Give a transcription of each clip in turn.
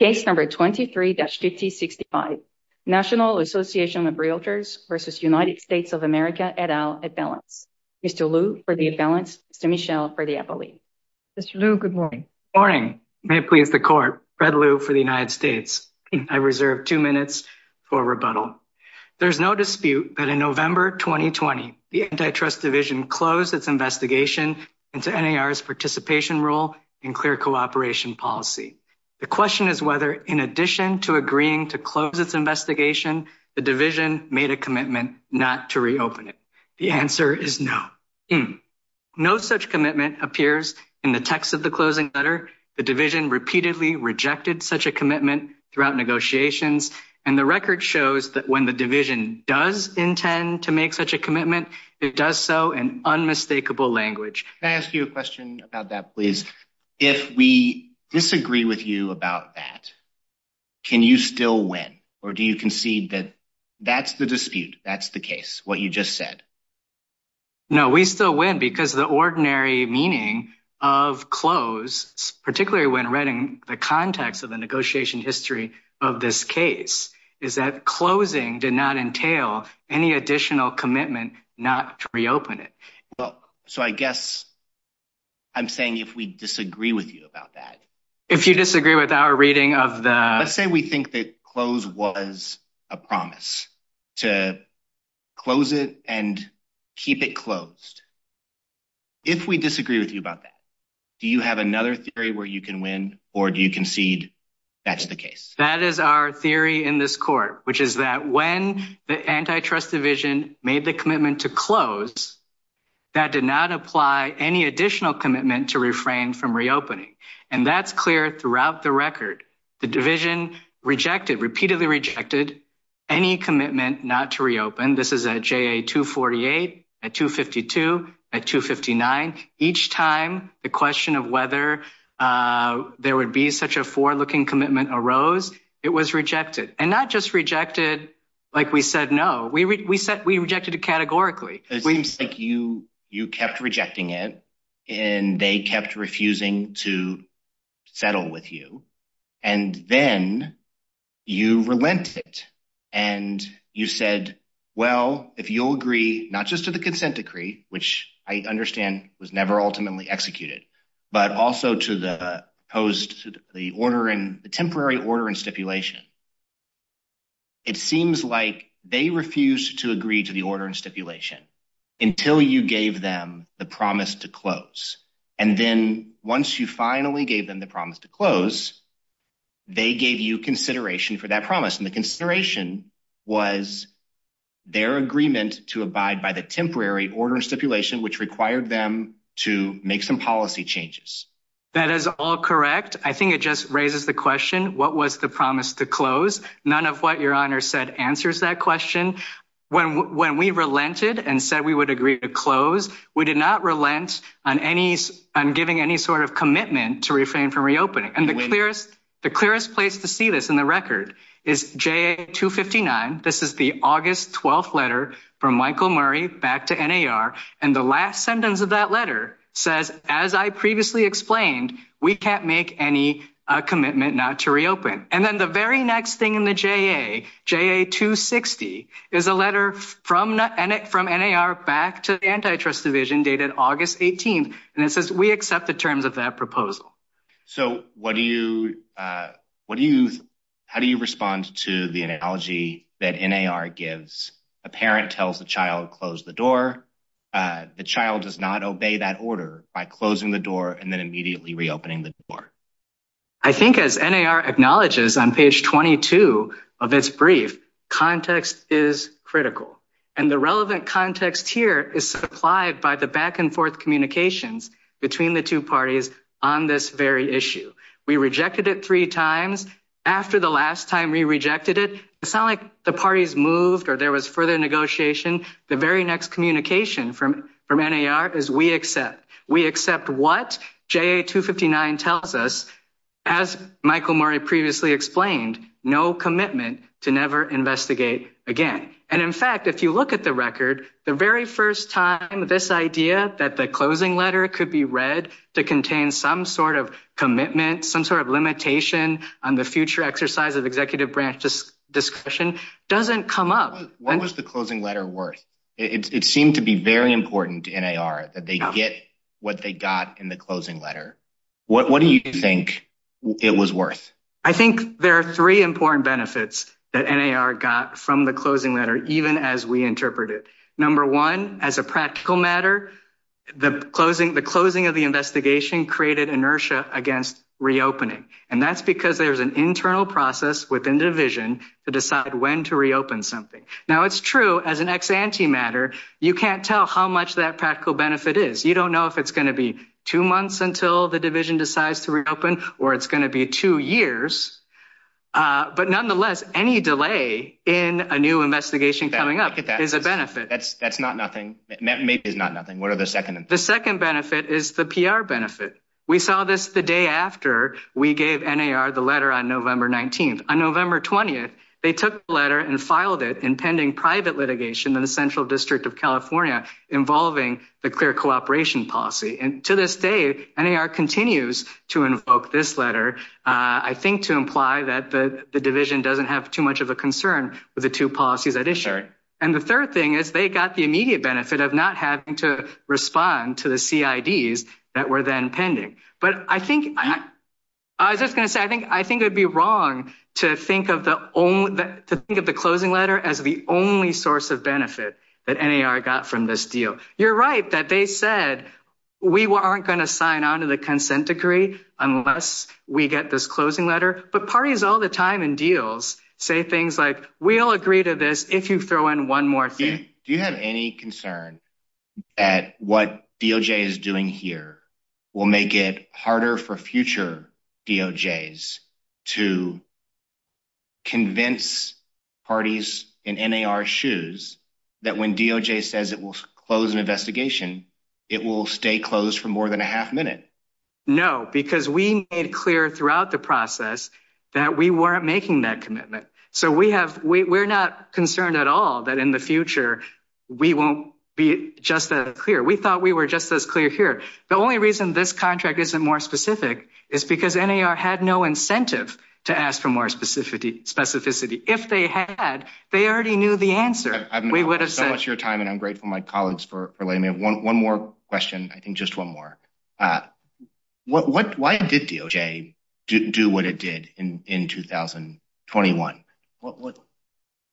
Case number 23-5065, National Association of Realtors versus United States of America et al at balance. Mr. Liu for the at balance, Mr. Michel for the appellee. Mr. Liu, good morning. Morning. May it please the court. Fred Liu for the United States. I reserve two minutes for rebuttal. There's no dispute that in November 2020, the Antitrust Division closed its investigation into NAR's participation role in clear cooperation policy. The question is whether, in addition to agreeing to close its investigation, the Division made a commitment not to reopen it. The answer is no. No such commitment appears in the text of the closing letter. The Division repeatedly rejected such a commitment throughout negotiations, and the record shows that when the Division does intend to make such a commitment, it does so in unmistakable language. Can I ask you a question about that, please? If we disagree with you about that, can you still win, or do you concede that that's the dispute, that's the case, what you just said? No, we still win because the ordinary meaning of close, particularly when reading the context of the negotiation history of this case, is that closing did not entail any additional commitment not to reopen it. Well, so I guess I'm saying if we disagree with you about that. If you disagree with our reading of the... Let's say we think that close was a promise to close it and keep it closed. If we disagree with you about that, do you have another theory where you can win, or do you concede that's the case? That is our theory in this court, which is that when the Antitrust Division made the commitment to close, that did not apply any additional commitment to refrain from reopening, and that's clear throughout the record. The Division repeatedly rejected any commitment not to reopen. This is at JA 248, at 252, at 259. Each time the question of whether there would be such a for-looking commitment arose, it was rejected, and not just rejected like we said no. We rejected it categorically. It seems like you kept rejecting it, and they kept refusing to settle with you, and then you relented, and you said, well, if you'll agree not just to the consent decree, which I understand was never ultimately executed, but also to the post... The temporary order and stipulation. It seems like they refused to agree to the order and stipulation until you gave them the promise to close, and then once you finally gave them the promise to close, they gave you consideration for that promise, and the consideration was their agreement to abide by the temporary order stipulation, which required them to make some policy changes. That is all correct. I think it just raises the question, what was the promise to close? None of what your honor said answers that question. When we relented and said we would agree to close, we did not relent on giving any sort of commitment to refrain from reopening, and the clearest place to see this in the record is JA-259. This is the August 12th letter from Michael Murray back to NAR, and the last sentence of that letter says, as I previously explained, we can't make any commitment not to reopen, and then the very next thing in the JA, JA-260, is a letter from NAR back to the Antitrust Division dated August 18th, and it says we accept the terms of that proposal. So how do you respond to the analogy that NAR gives? A parent tells the child, close the door. The child does not obey that order by closing the door and then immediately reopening the door. I think as NAR acknowledges on page 22 of its brief, context is critical, and the relevant context here is supplied by the back-and-forth communications between the two parties on this very issue. We rejected it three times. After the last time we rejected it, it's not like the parties moved or there was further negotiation. The very next communication from from NAR is we accept. We accept what JA-259 tells us. As Michael Murray previously explained, no commitment to never investigate again, and in fact if you look at the record, the very first time this idea that the closing letter could be read to contain some sort of commitment, some sort of limitation on the future exercise of executive branch discussion doesn't come up. What was the closing letter worth? It seemed to be very important to NAR that they get what they got in the closing letter. What do you think it was worth? I think there are three important benefits that NAR got from the closing letter, even as we interpreted. Number one, as a practical matter, the closing of the investigation created inertia against reopening, and that's because there's an internal process within division to decide when to reopen something. Now it's true as an ex-ante matter, you can't tell how much that practical benefit is. You don't know if it's going to be two months until the division decides to reopen. It's going to be a couple of years, but nonetheless, any delay in a new investigation coming up is a benefit. That's not nothing. Maybe it's not nothing. What are the second benefits? The second benefit is the PR benefit. We saw this the day after we gave NAR the letter on November 19th. On November 20th, they took the letter and filed it in pending private litigation in the Central District of California involving the clear cooperation policy, and to this day, NAR continues to invoke this letter, I think to imply that the division doesn't have too much of a concern with the two policies at issue. And the third thing is they got the immediate benefit of not having to respond to the CIDs that were then pending. But I think, I was just going to say, I think it would be wrong to think of the closing letter as the only source of benefit that NAR got from this deal. You're right that they said we weren't going to sign on to the consent decree unless we get this closing letter, but parties all the time in deals say things like, we'll agree to this if you throw in one more thing. Do you have any concern that what DOJ is doing here will make it harder for future DOJs to convince parties in NAR's shoes that when DOJ says it will close an investigation, it will stay closed for more than a half minute? No, because we made clear throughout the process that we weren't making that commitment. So we have, we're not concerned at all that in the future we won't be just as clear. We thought we were just as clear here. The only reason this contract isn't more specific is because NAR had no incentive to ask for more specificity. If they had, they already knew the answer. I've been so much of your time and I'm grateful to my colleagues for letting me. One more question, I think just one more. Why did DOJ do what it did in 2021? What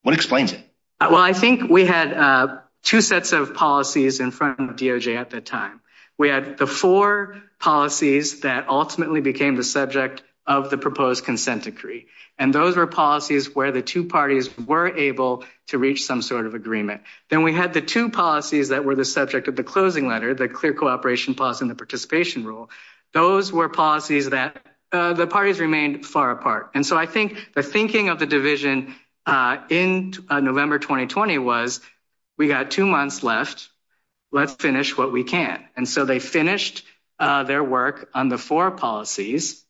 explains it? Well, I think we had two sets of policies in front of DOJ at that time. We had the four policies that ultimately became the subject of the proposed consent decree. And those were policies where the two parties were able to reach some sort of agreement. Then we had the two policies that were the subject of the closing letter, the clear cooperation policy and the participation rule. Those were policies that the parties remained far apart. And so I think the thinking of the division in November 2020 was we got two months left, let's finish what we can. And so they finished their work on the four policies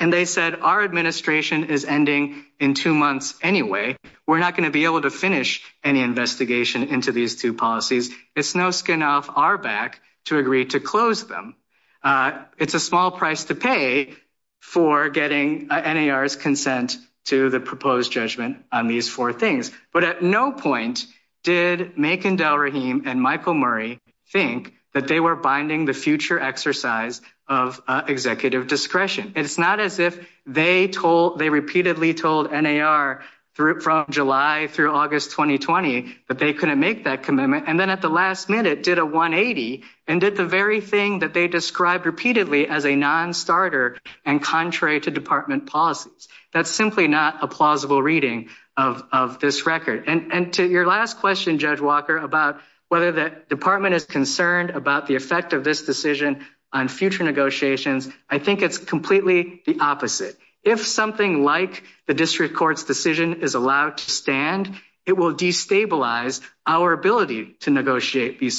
and they said our administration is ending in two months anyway. We're not going to be able to finish any investigation into these two policies. It's no skin off our back to agree to close them. It's a small price to pay for getting NAR's consent to the proposed judgment on these four things. But at no point did Makan Delrahim and Michael Murray think that they were binding the future exercise of executive discretion. It's not as if they told, they repeatedly told NAR from July through August 2020 that they couldn't make that commitment. And then at the last minute did a 180 and did the very thing that they described repeatedly as a non-starter and contrary to department policies. That's simply not a plausible reading of this record. And to your last question, Judge Walker, about whether the department is concerned about the effect of this decision on future negotiations, I think it's completely the opposite. If something like the district court's decision is allowed to stand, it will destabilize our ability to negotiate these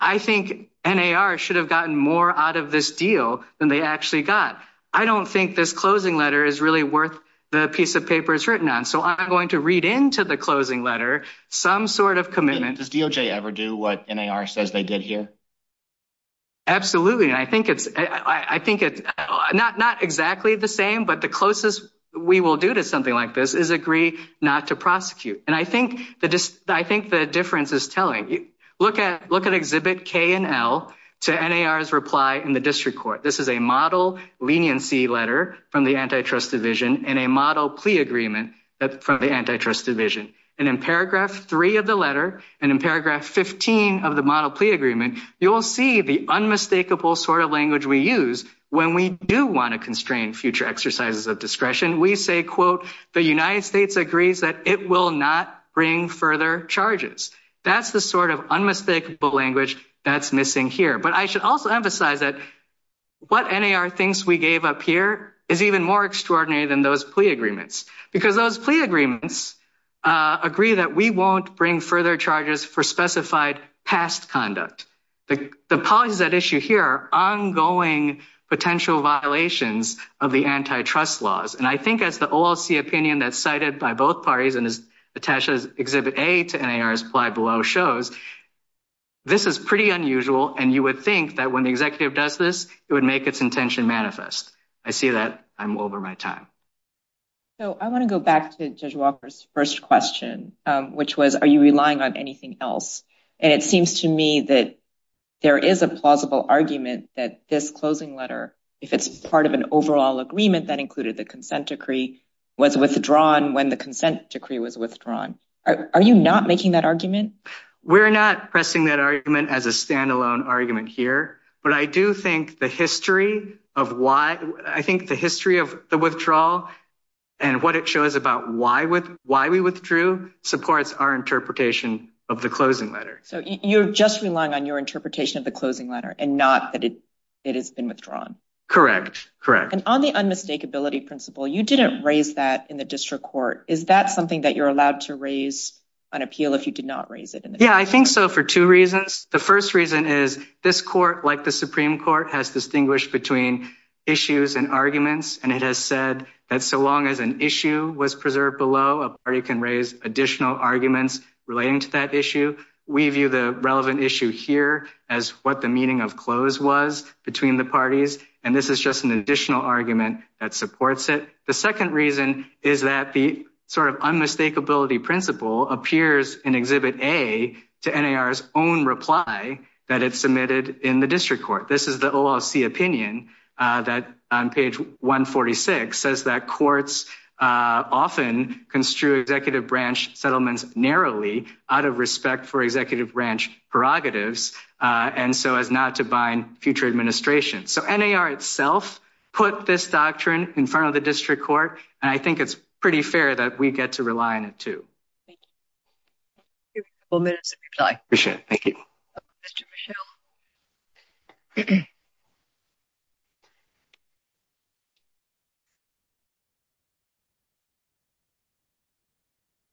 I think NAR should have gotten more out of this deal than they actually got. I don't think this closing letter is really worth the piece of paper it's written on. So I'm going to read into the closing letter some sort of commitment. Does DOJ ever do what NAR says they did here? Absolutely. I think it's not exactly the same, but the closest we will do to something like this is not to prosecute. And I think the difference is telling. Look at Exhibit K and L to NAR's reply in the district court. This is a model leniency letter from the antitrust division and a model plea agreement from the antitrust division. And in paragraph 3 of the letter and in paragraph 15 of the model plea agreement, you will see the unmistakable sort of language we use when we do want to constrain future exercises of discretion. We say, quote, the United States agrees that it will not bring further charges. That's the sort of unmistakable language that's missing here. But I should also emphasize that what NAR thinks we gave up here is even more extraordinary than those plea agreements, because those plea agreements agree that we won't bring further charges for specified past conduct. The policies at issue here are ongoing potential violations of the antitrust laws. And I think as the OLC opinion that's cited by both parties and is attached as Exhibit A to NAR's ply below shows, this is pretty unusual. And you would think that when the executive does this, it would make its intention manifest. I see that I'm over my time. So I want to go back to Judge Walker's first question, which was, are you relying on anything else? And it seems to me that there is a plausible argument that this closing letter, if it's part of an overall agreement that included the consent decree, was withdrawn when the consent decree was withdrawn. Are you not making that argument? We're not pressing that argument as a standalone argument here. But I do think the history of why, I think the history of the withdrawal and what it shows about why we withdrew supports our interpretation of the closing letter. So you're just relying on your interpretation of the closing letter and not that it has been withdrawn? Correct. And on the unmistakability principle, you didn't raise that in the district court. Is that something that you're allowed to raise on appeal if you did not raise it? Yeah, I think so for two reasons. The first reason is this court, like the Supreme Court, has distinguished between issues and arguments. And it has said that so long as an issue was preserved below, a party can raise additional arguments relating to that issue. We view the relevant issue here as what the meaning of close was between the parties. And this is just an additional argument that supports it. The second reason is that the sort of unmistakability principle appears in Exhibit A to NAR's own reply that it submitted in the district court. This is the OLC opinion that on page 146 says that courts often construe executive branch settlements narrowly out of respect for executive branch prerogatives, and so as not to bind future administration. So NAR itself put this doctrine in front of the district court, and I think it's pretty fair that we get to rely on it too. Thank you. We have a couple minutes of reply. Appreciate it. Thank you.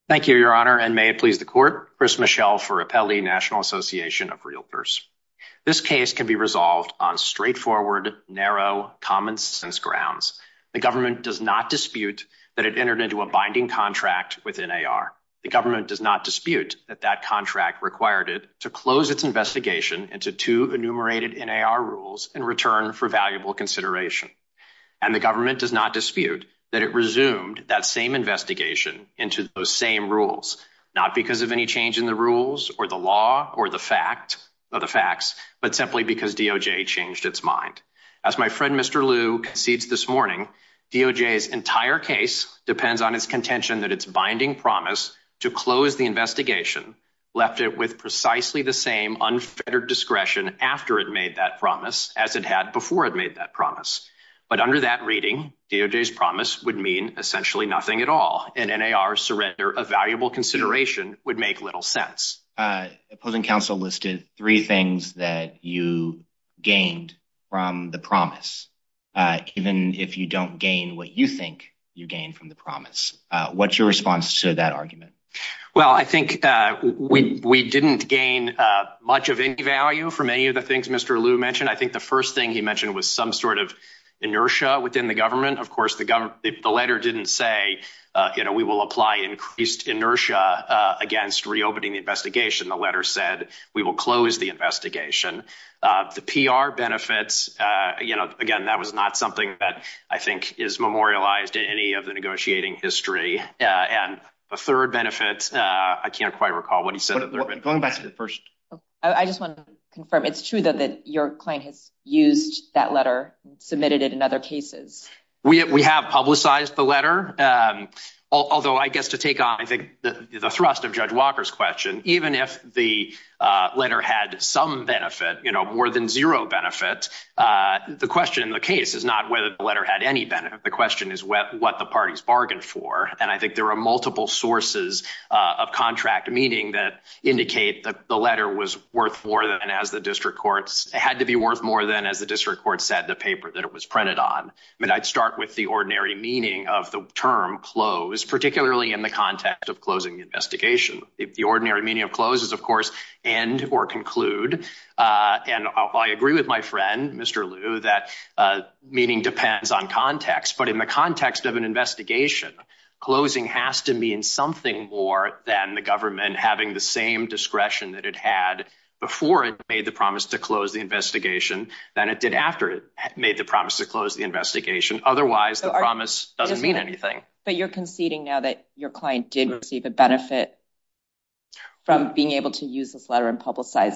Thank you, Your Honor, and may it please the Court. Chris Michel for Appelli National Association of Realtors. This case can be resolved on straightforward, narrow, common-sense grounds. The government does not dispute that it entered into a binding contract with NAR. The government does not dispute that that contract required it to close its investigation into two enumerated NAR rules in return for valuable consideration. And the government does not dispute that it resumed that same investigation into those same rules, not because of any change in the rules or the law or the facts, but simply because DOJ changed its mind. As my friend Mr. Liu concedes this morning, DOJ's entire case depends on its contention that its binding promise to close the investigation left it with precisely the same unfettered discretion after it made that promise as it had before it made that promise. But under that reading, DOJ's promise would mean essentially nothing at all, and NAR's surrender of valuable consideration would make little sense. Opposing if you don't gain what you think you gain from the promise. What's your response to that argument? Well, I think we didn't gain much of any value from any of the things Mr. Liu mentioned. I think the first thing he mentioned was some sort of inertia within the government. Of course, the letter didn't say, you know, we will apply increased inertia against reopening the investigation. The letter said we will close the investigation. The PR benefits, you know, again, that was not something that I think is memorialized in any of the negotiating history. And the third benefit, I can't quite recall what he said. I just want to confirm, it's true that your client has used that letter, submitted it in other cases. We have publicized the letter, although I guess to take on the thrust of Judge Walker's question, even if the benefit, you know, more than zero benefit, the question in the case is not whether the letter had any benefit. The question is what the parties bargained for. And I think there are multiple sources of contract meaning that indicate that the letter was worth more than as the district courts, it had to be worth more than as the district court said the paper that it was printed on. I mean, I'd start with the ordinary meaning of the term close, particularly in the context of and I agree with my friend, Mr. Liu, that meaning depends on context. But in the context of an investigation, closing has to mean something more than the government having the same discretion that it had before it made the promise to close the investigation than it did after it made the promise to close the investigation. Otherwise the promise doesn't mean anything. But you're conceding now that your client did receive a benefit from being able to use this letter and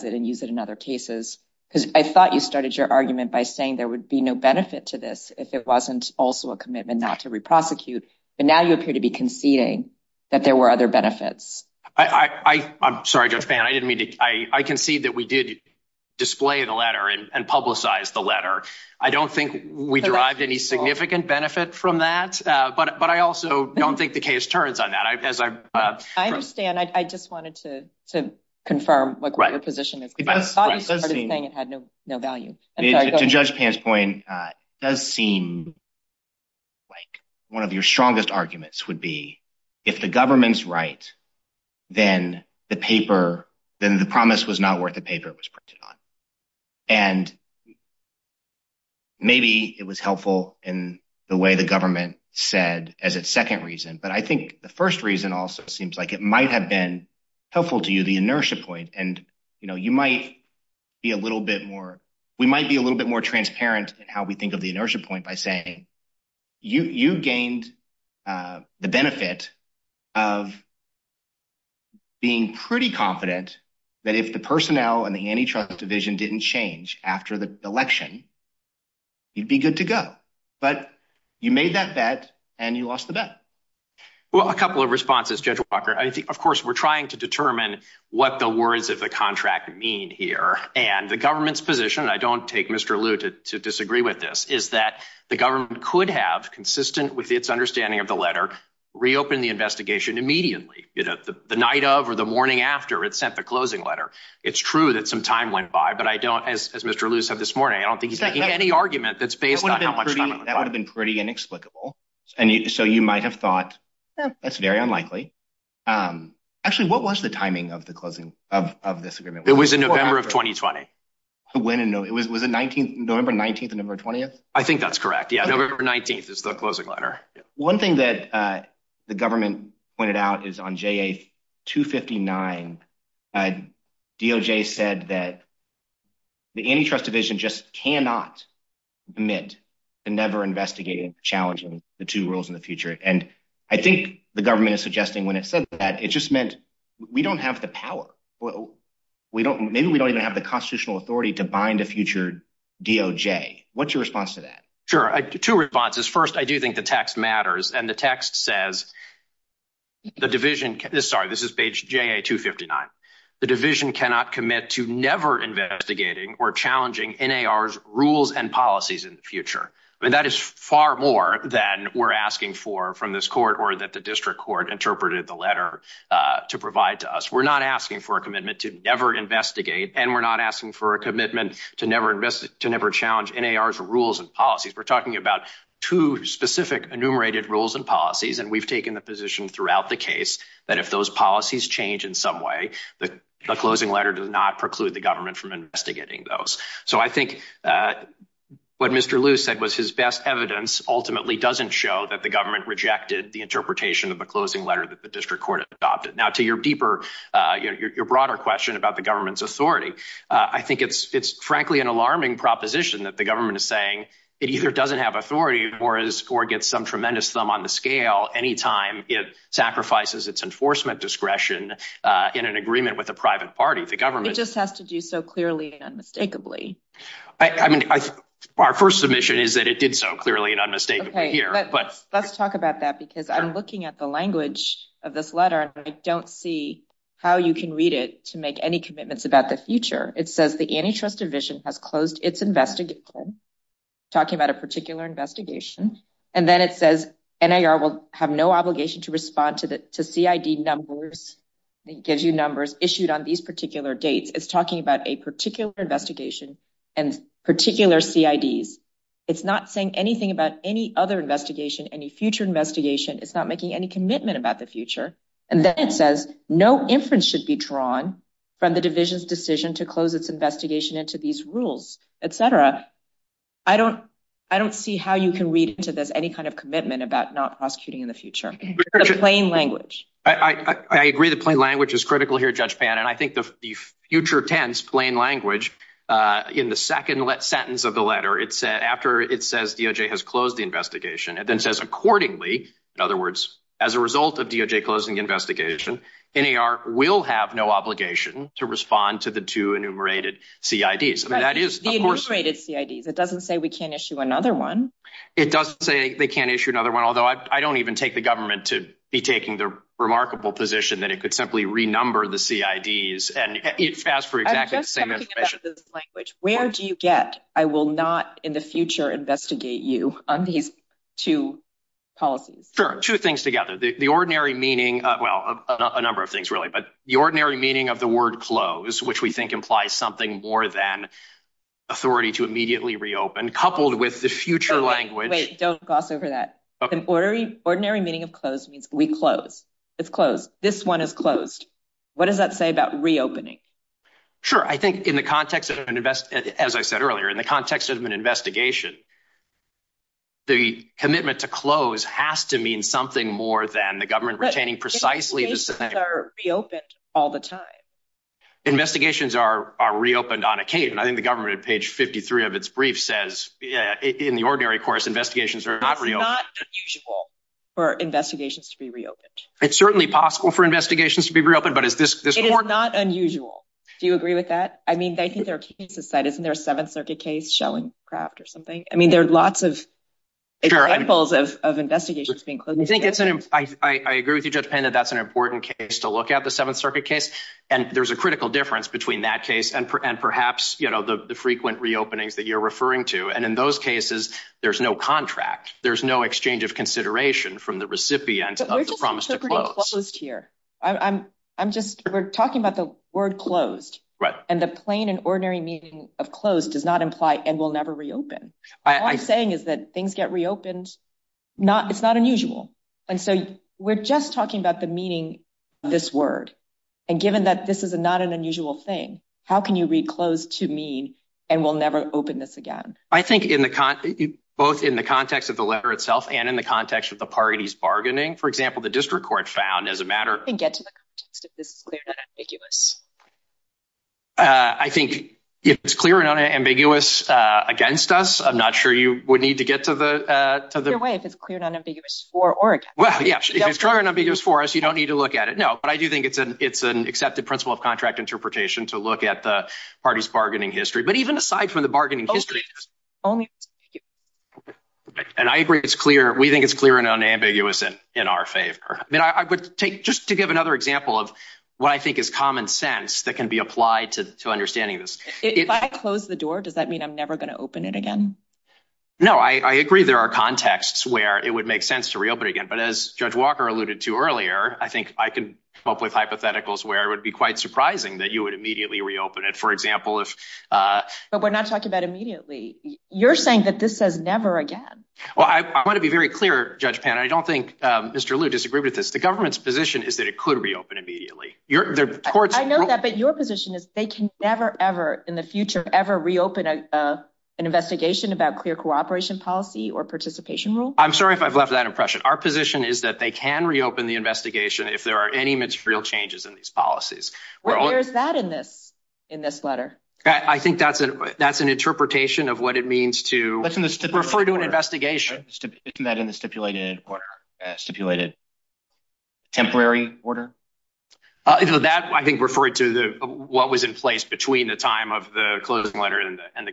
in other cases, because I thought you started your argument by saying there would be no benefit to this if it wasn't also a commitment not to re-prosecute. But now you appear to be conceding that there were other benefits. I'm sorry, Judge Fan, I didn't mean to. I concede that we did display the letter and publicize the letter. I don't think we derived any significant benefit from that. But I also don't think the case turns on that. I understand. I just wanted to confirm what your position is. I thought you started saying it had no value. To Judge Fan's point, it does seem like one of your strongest arguments would be if the government's right, then the promise was not worth the paper it was printed on. And maybe it was helpful in the way the government said as its second reason. But I think the first reason also seems like it might have been helpful to you, the inertia point. And, you know, you might be a little bit more, we might be a little bit more transparent in how we think of the inertia point by saying you gained the benefit of being pretty confident that if the personnel and the antitrust division didn't change after the election, you'd be good to go. But you made that bet and you lost the bet. Well, a couple of responses, Judge Walker. I think, of course, we're trying to determine what the words of the contract mean here. And the government's position, I don't take Mr. Liu to disagree with this, is that the government could have, consistent with its understanding of the letter, reopened the investigation immediately, you know, the night of or the morning after it sent the closing letter. It's true that some time went by. But I don't, as Mr. Liu said this morning, I don't think he's making any argument that's based on how much time and so you might have thought that's very unlikely. Actually, what was the timing of the closing of this agreement? It was in November of 2020. When? It was a 19th, November 19th, November 20th. I think that's correct. Yeah. November 19th is the closing letter. One thing that the government pointed out is on J.A. 259, DOJ said that the antitrust division just cannot commit to never investigating or challenging the two rules in the future. And I think the government is suggesting when it said that it just meant we don't have the power. We don't, maybe we don't even have the constitutional authority to bind a future DOJ. What's your response to that? Sure. Two responses. First, I do think the text matters. And the text says the division, sorry, this is page J.A. 259. The division cannot commit to never investigating or policies in the future. That is far more than we're asking for from this court or that the district court interpreted the letter to provide to us. We're not asking for a commitment to never investigate and we're not asking for a commitment to never challenge NAR's rules and policies. We're talking about two specific enumerated rules and policies and we've taken the position throughout the case that if those policies change in some way, the closing letter does preclude the government from investigating those. So I think what Mr. Liu said was his best evidence ultimately doesn't show that the government rejected the interpretation of the closing letter that the district court adopted. Now to your deeper, your broader question about the government's authority, I think it's frankly an alarming proposition that the government is saying it either doesn't have authority or gets some tremendous thumb on the scale anytime it has to do so clearly and unmistakably. Our first submission is that it did so clearly and unmistakably. Let's talk about that because I'm looking at the language of this letter and I don't see how you can read it to make any commitments about the future. It says the antitrust division has closed its investigation, talking about a particular investigation, and then it says NAR will have no obligation to respond to CID numbers. It gives you numbers issued on these particular dates. It's talking about a particular investigation and particular CIDs. It's not saying anything about any other investigation, any future investigation. It's not making any commitment about the future. And then it says no inference should be drawn from the division's decision to close its investigation into these rules, etc. I don't see how you can read into this any kind of commitment about not prosecuting in the future. The plain language. I agree the plain language is future tense, plain language. In the second sentence of the letter, it said after it says DOJ has closed the investigation, it then says accordingly. In other words, as a result of DOJ closing the investigation, NAR will have no obligation to respond to the two enumerated CIDs. The enumerated CIDs. It doesn't say we can't issue another one. It doesn't say they can't issue another one, although I don't even take the government to be taking the remarkable position that it could simply renumber the CIDs and ask for exactly the same information. Where do you get, I will not in the future investigate you on these two policies? Sure, two things together. The ordinary meaning, well, a number of things really, but the ordinary meaning of the word close, which we think implies something more than authority to immediately reopen, coupled with the future language. Wait, don't gloss over that. The ordinary meaning of we close, it's closed. This one is closed. What does that say about reopening? Sure. I think in the context of an invest, as I said earlier, in the context of an investigation, the commitment to close has to mean something more than the government retaining precisely the same. Investigations are reopened all the time. Investigations are reopened on occasion. I think the government at page 53 of its brief says in the ordinary course, it's not unusual for investigations to be reopened. It's certainly possible for investigations to be reopened, but is this important? It is not unusual. Do you agree with that? I mean, I think there are cases set. Isn't there a Seventh Circuit case, Shellingcraft or something? I mean, there are lots of examples of investigations being closed. I agree with you, Judge Payne, that that's an important case to look at, the Seventh Circuit case. And there's a critical difference between that case and perhaps the frequent reopenings you're referring to. And in those cases, there's no contract. There's no exchange of consideration from the recipient of the promise to close. We're just interpreting closed here. We're talking about the word closed. Right. And the plain and ordinary meaning of closed does not imply and will never reopen. All I'm saying is that things get reopened. It's not unusual. And so we're just talking about the meaning of this word. And given that this is not an unusual thing, how can you read closed to mean and will never open this again? I think both in the context of the letter itself and in the context of the parties bargaining, for example, the district court found as a matter of... I think if it's clear and unambiguous against us, I'm not sure you would need to get to the... Either way, if it's clear and unambiguous for or against... Well, yeah, if it's clear and unambiguous for us, you don't need to look at it. No, but I do think it's an accepted principle of contract interpretation to look at the party's bargaining history. But even aside from the bargaining history... And I agree it's clear. We think it's clear and unambiguous in our favor. I mean, I would take just to give another example of what I think is common sense that can be applied to understanding this. If I close the door, does that mean I'm never going to open it again? No, I agree there are contexts where it would make sense to reopen again. But as Judge Walker alluded to earlier, I think I can come up with hypotheticals where it would be quite surprising that you would immediately reopen it. For example, if... But we're not talking about immediately. You're saying that this says never again. Well, I want to be very clear, Judge Pan. I don't think Mr. Liu disagreed with this. The government's position is that it could reopen immediately. I know that, but your position is they can never ever in the future ever reopen an investigation about clear cooperation policy or participation rule? I'm sorry if I've left that impression. Our position is that they can reopen the investigation if there are any material changes in these policies. Where is that in this letter? I think that's an interpretation of what it means to refer to an investigation. Isn't that in the stipulated order? Stipulated temporary order? That, I think, referred to what was in place between the time of the closing letter and the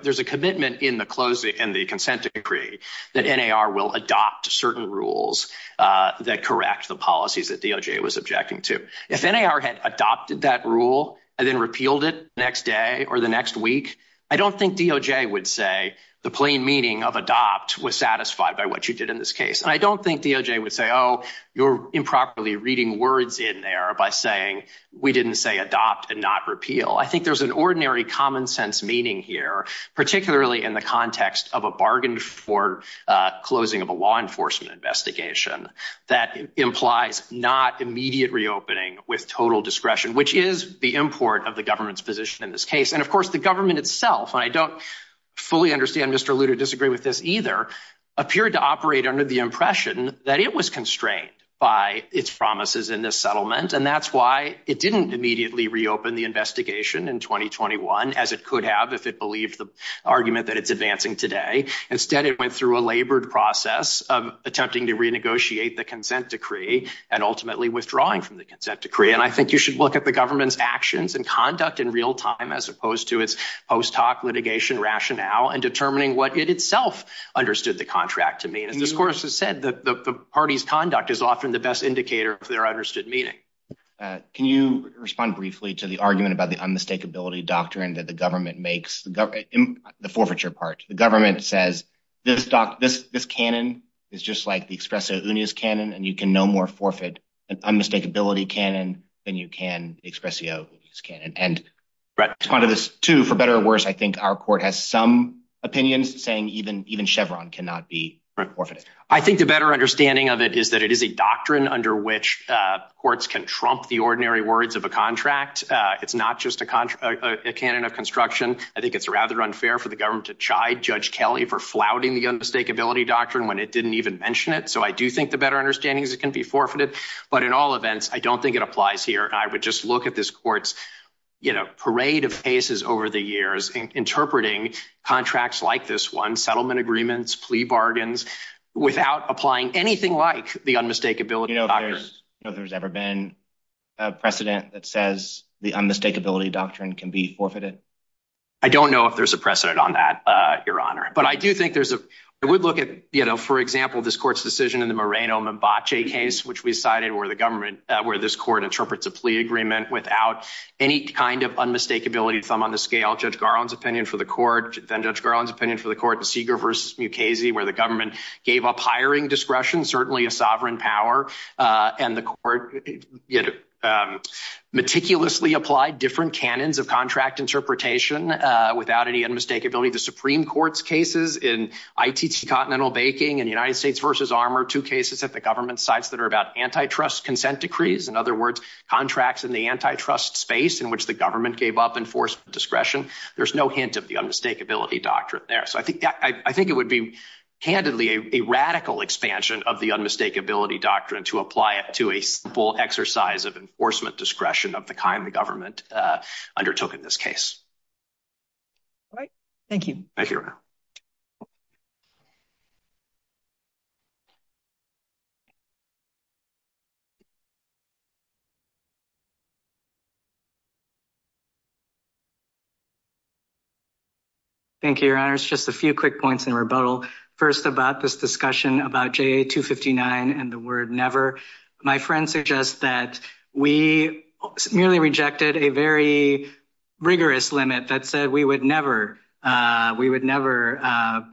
There's a commitment in the consent decree that NAR will adopt certain rules that correct the policies that DOJ was objecting to. If NAR had adopted that rule and then repealed it the next day or the next week, I don't think DOJ would say the plain meaning of adopt was satisfied by what you did in this case. And I don't think DOJ would say, oh, you're improperly reading words in there by saying we didn't say adopt and not repeal. I think there's an ordinary common sense meaning here, particularly in the context of a bargain for closing of a law enforcement investigation that implies not immediate reopening with total discretion, which is the import of the government's position in this case. And, of course, the government itself, and I don't fully understand Mr. Liu to disagree with this either, appeared to operate under the impression that it was constrained by its promises in this settlement. And that's why it didn't immediately reopen the investigation in 2021, as it could have if it believed the argument that it's advancing today. Instead, it went through a labored process of attempting to renegotiate the consent decree and ultimately withdrawing from the consent decree. And I think you should look at the government's actions and conduct in real time as opposed to its post hoc litigation rationale and determining what it best indicator of their understood meaning. Can you respond briefly to the argument about the unmistakability doctrine that the government makes, the forfeiture part. The government says this canon is just like the expresso unis canon and you can no more forfeit an unmistakability canon than you can expresso unis canon. And to respond to this too, for better or worse, I think our court has some opinions saying even Chevron cannot be forfeited. I think the better understanding of it is that it is a doctrine under which courts can trump the ordinary words of a contract. It's not just a canon of construction. I think it's rather unfair for the government to chide Judge Kelly for flouting the unmistakability doctrine when it didn't even mention it. So I do think the better understanding is it can be forfeited. But in all events, I don't think it applies here. I would just look at this court's, you know, parade of cases over the years interpreting contracts like this one, settlement agreements, plea bargains, without applying anything like the unmistakability doctrine. You know if there's ever been a precedent that says the unmistakability doctrine can be forfeited? I don't know if there's a precedent on that, Your Honor. But I do think there's a, I would look at, you know, for example, this court's decision in the Moreno-Membace case, which we cited where the government, where this court interprets a plea agreement without any kind of unmistakability thumb on the scale. Judge Garland's opinion for the court, then Judge Garland's opinion for the court, the Seeger versus Mukasey, where the government gave up hiring discretion, certainly a sovereign power. And the court, you know, meticulously applied different canons of contract interpretation without any unmistakability. The Supreme Court's cases in ITC Continental Baking and United States versus Armour, two cases at the government sites that are about antitrust consent decrees, in other words, contracts in the antitrust space in which the government gave up enforcement discretion. There's no hint of the unmistakability doctrine there. So I think I think it would be candidly a radical expansion of the unmistakability doctrine to apply it to a simple exercise of enforcement discretion of the kind the government undertook in this case. All right. Thank you. Thank you, Your Honor. Thank you, Your Honor. Just a few quick points in rebuttal. First, about this discussion about J.A. 259 and the word never. My friend suggests that we merely rejected a very rigorous limit that said we would never we would never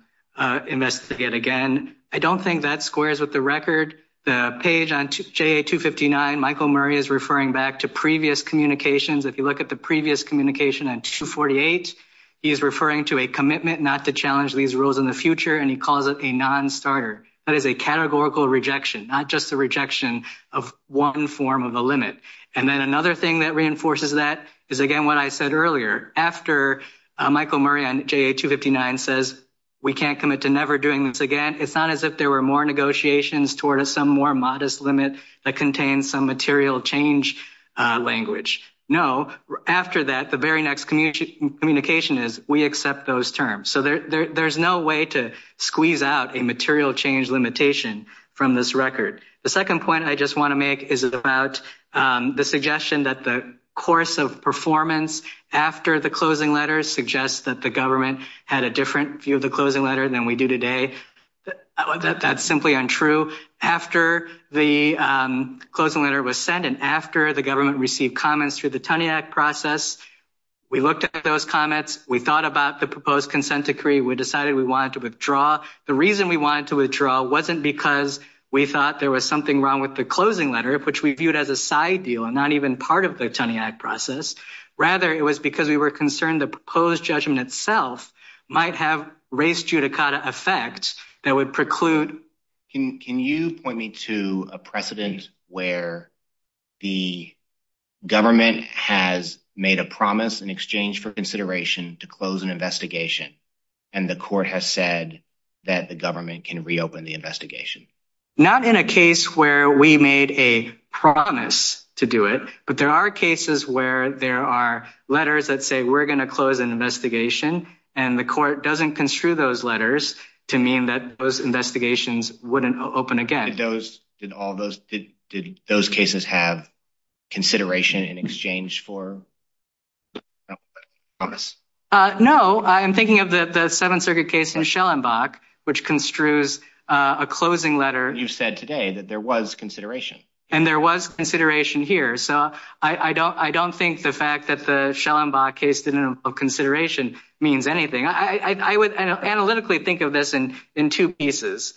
investigate again. I don't think that squares with the record. The page on J.A. 259, Michael Murray is referring back to previous communications. If you look at previous communication on 248, he is referring to a commitment not to challenge these rules in the future, and he calls it a non-starter. That is a categorical rejection, not just a rejection of one form of a limit. And then another thing that reinforces that is, again, what I said earlier. After Michael Murray on J.A. 259 says we can't commit to never doing this again, it's not as if there were more negotiations toward some more modest limit that contains some material change language. No. After that, the very next communication is we accept those terms. So there's no way to squeeze out a material change limitation from this record. The second point I just want to make is about the suggestion that the course of performance after the closing letter suggests that the government had a different view of the closing letter than we do today. That's simply untrue. After the closing letter was sent and after the government received comments through the Tuney Act process, we looked at those comments. We thought about the proposed consent decree. We decided we wanted to withdraw. The reason we wanted to withdraw wasn't because we thought there was something wrong with the closing letter, which we viewed as a side deal and not even part of the Tuney Act process. Rather, it was because we were concerned the that would preclude. Can you point me to a precedent where the government has made a promise in exchange for consideration to close an investigation and the court has said that the government can reopen the investigation? Not in a case where we made a promise to do it, but there are cases where there are letters that say we're going to close an investigation and the court doesn't construe those letters to mean that those investigations wouldn't open again. Did those cases have consideration in exchange for promise? No, I'm thinking of the the Seventh Circuit case in Schellenbach, which construes a closing letter. You said today that there was consideration. And there was consideration here. So I don't think the fact that the Schellenbach case didn't have consideration means anything. I would analytically think of this in two pieces.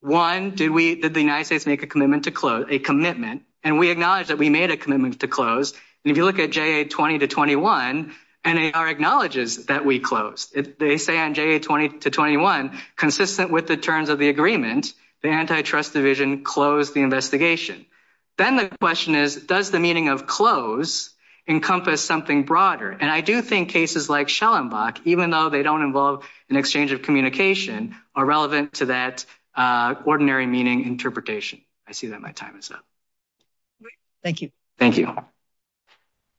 One, did the United States make a commitment to close a commitment? And we acknowledge that we made a commitment to close. And if you look at J.A. 20 to 21, N.A.R. acknowledges that we closed. They say on J.A. 20 to 21, consistent with the terms of the agreement, the antitrust division closed the investigation. Then the question is, does the meaning of close encompass something broader? And I do think cases like Schellenbach, even though they don't involve an exchange of communication, are relevant to that ordinary meaning interpretation. I see that my time is up. Thank you. Thank you.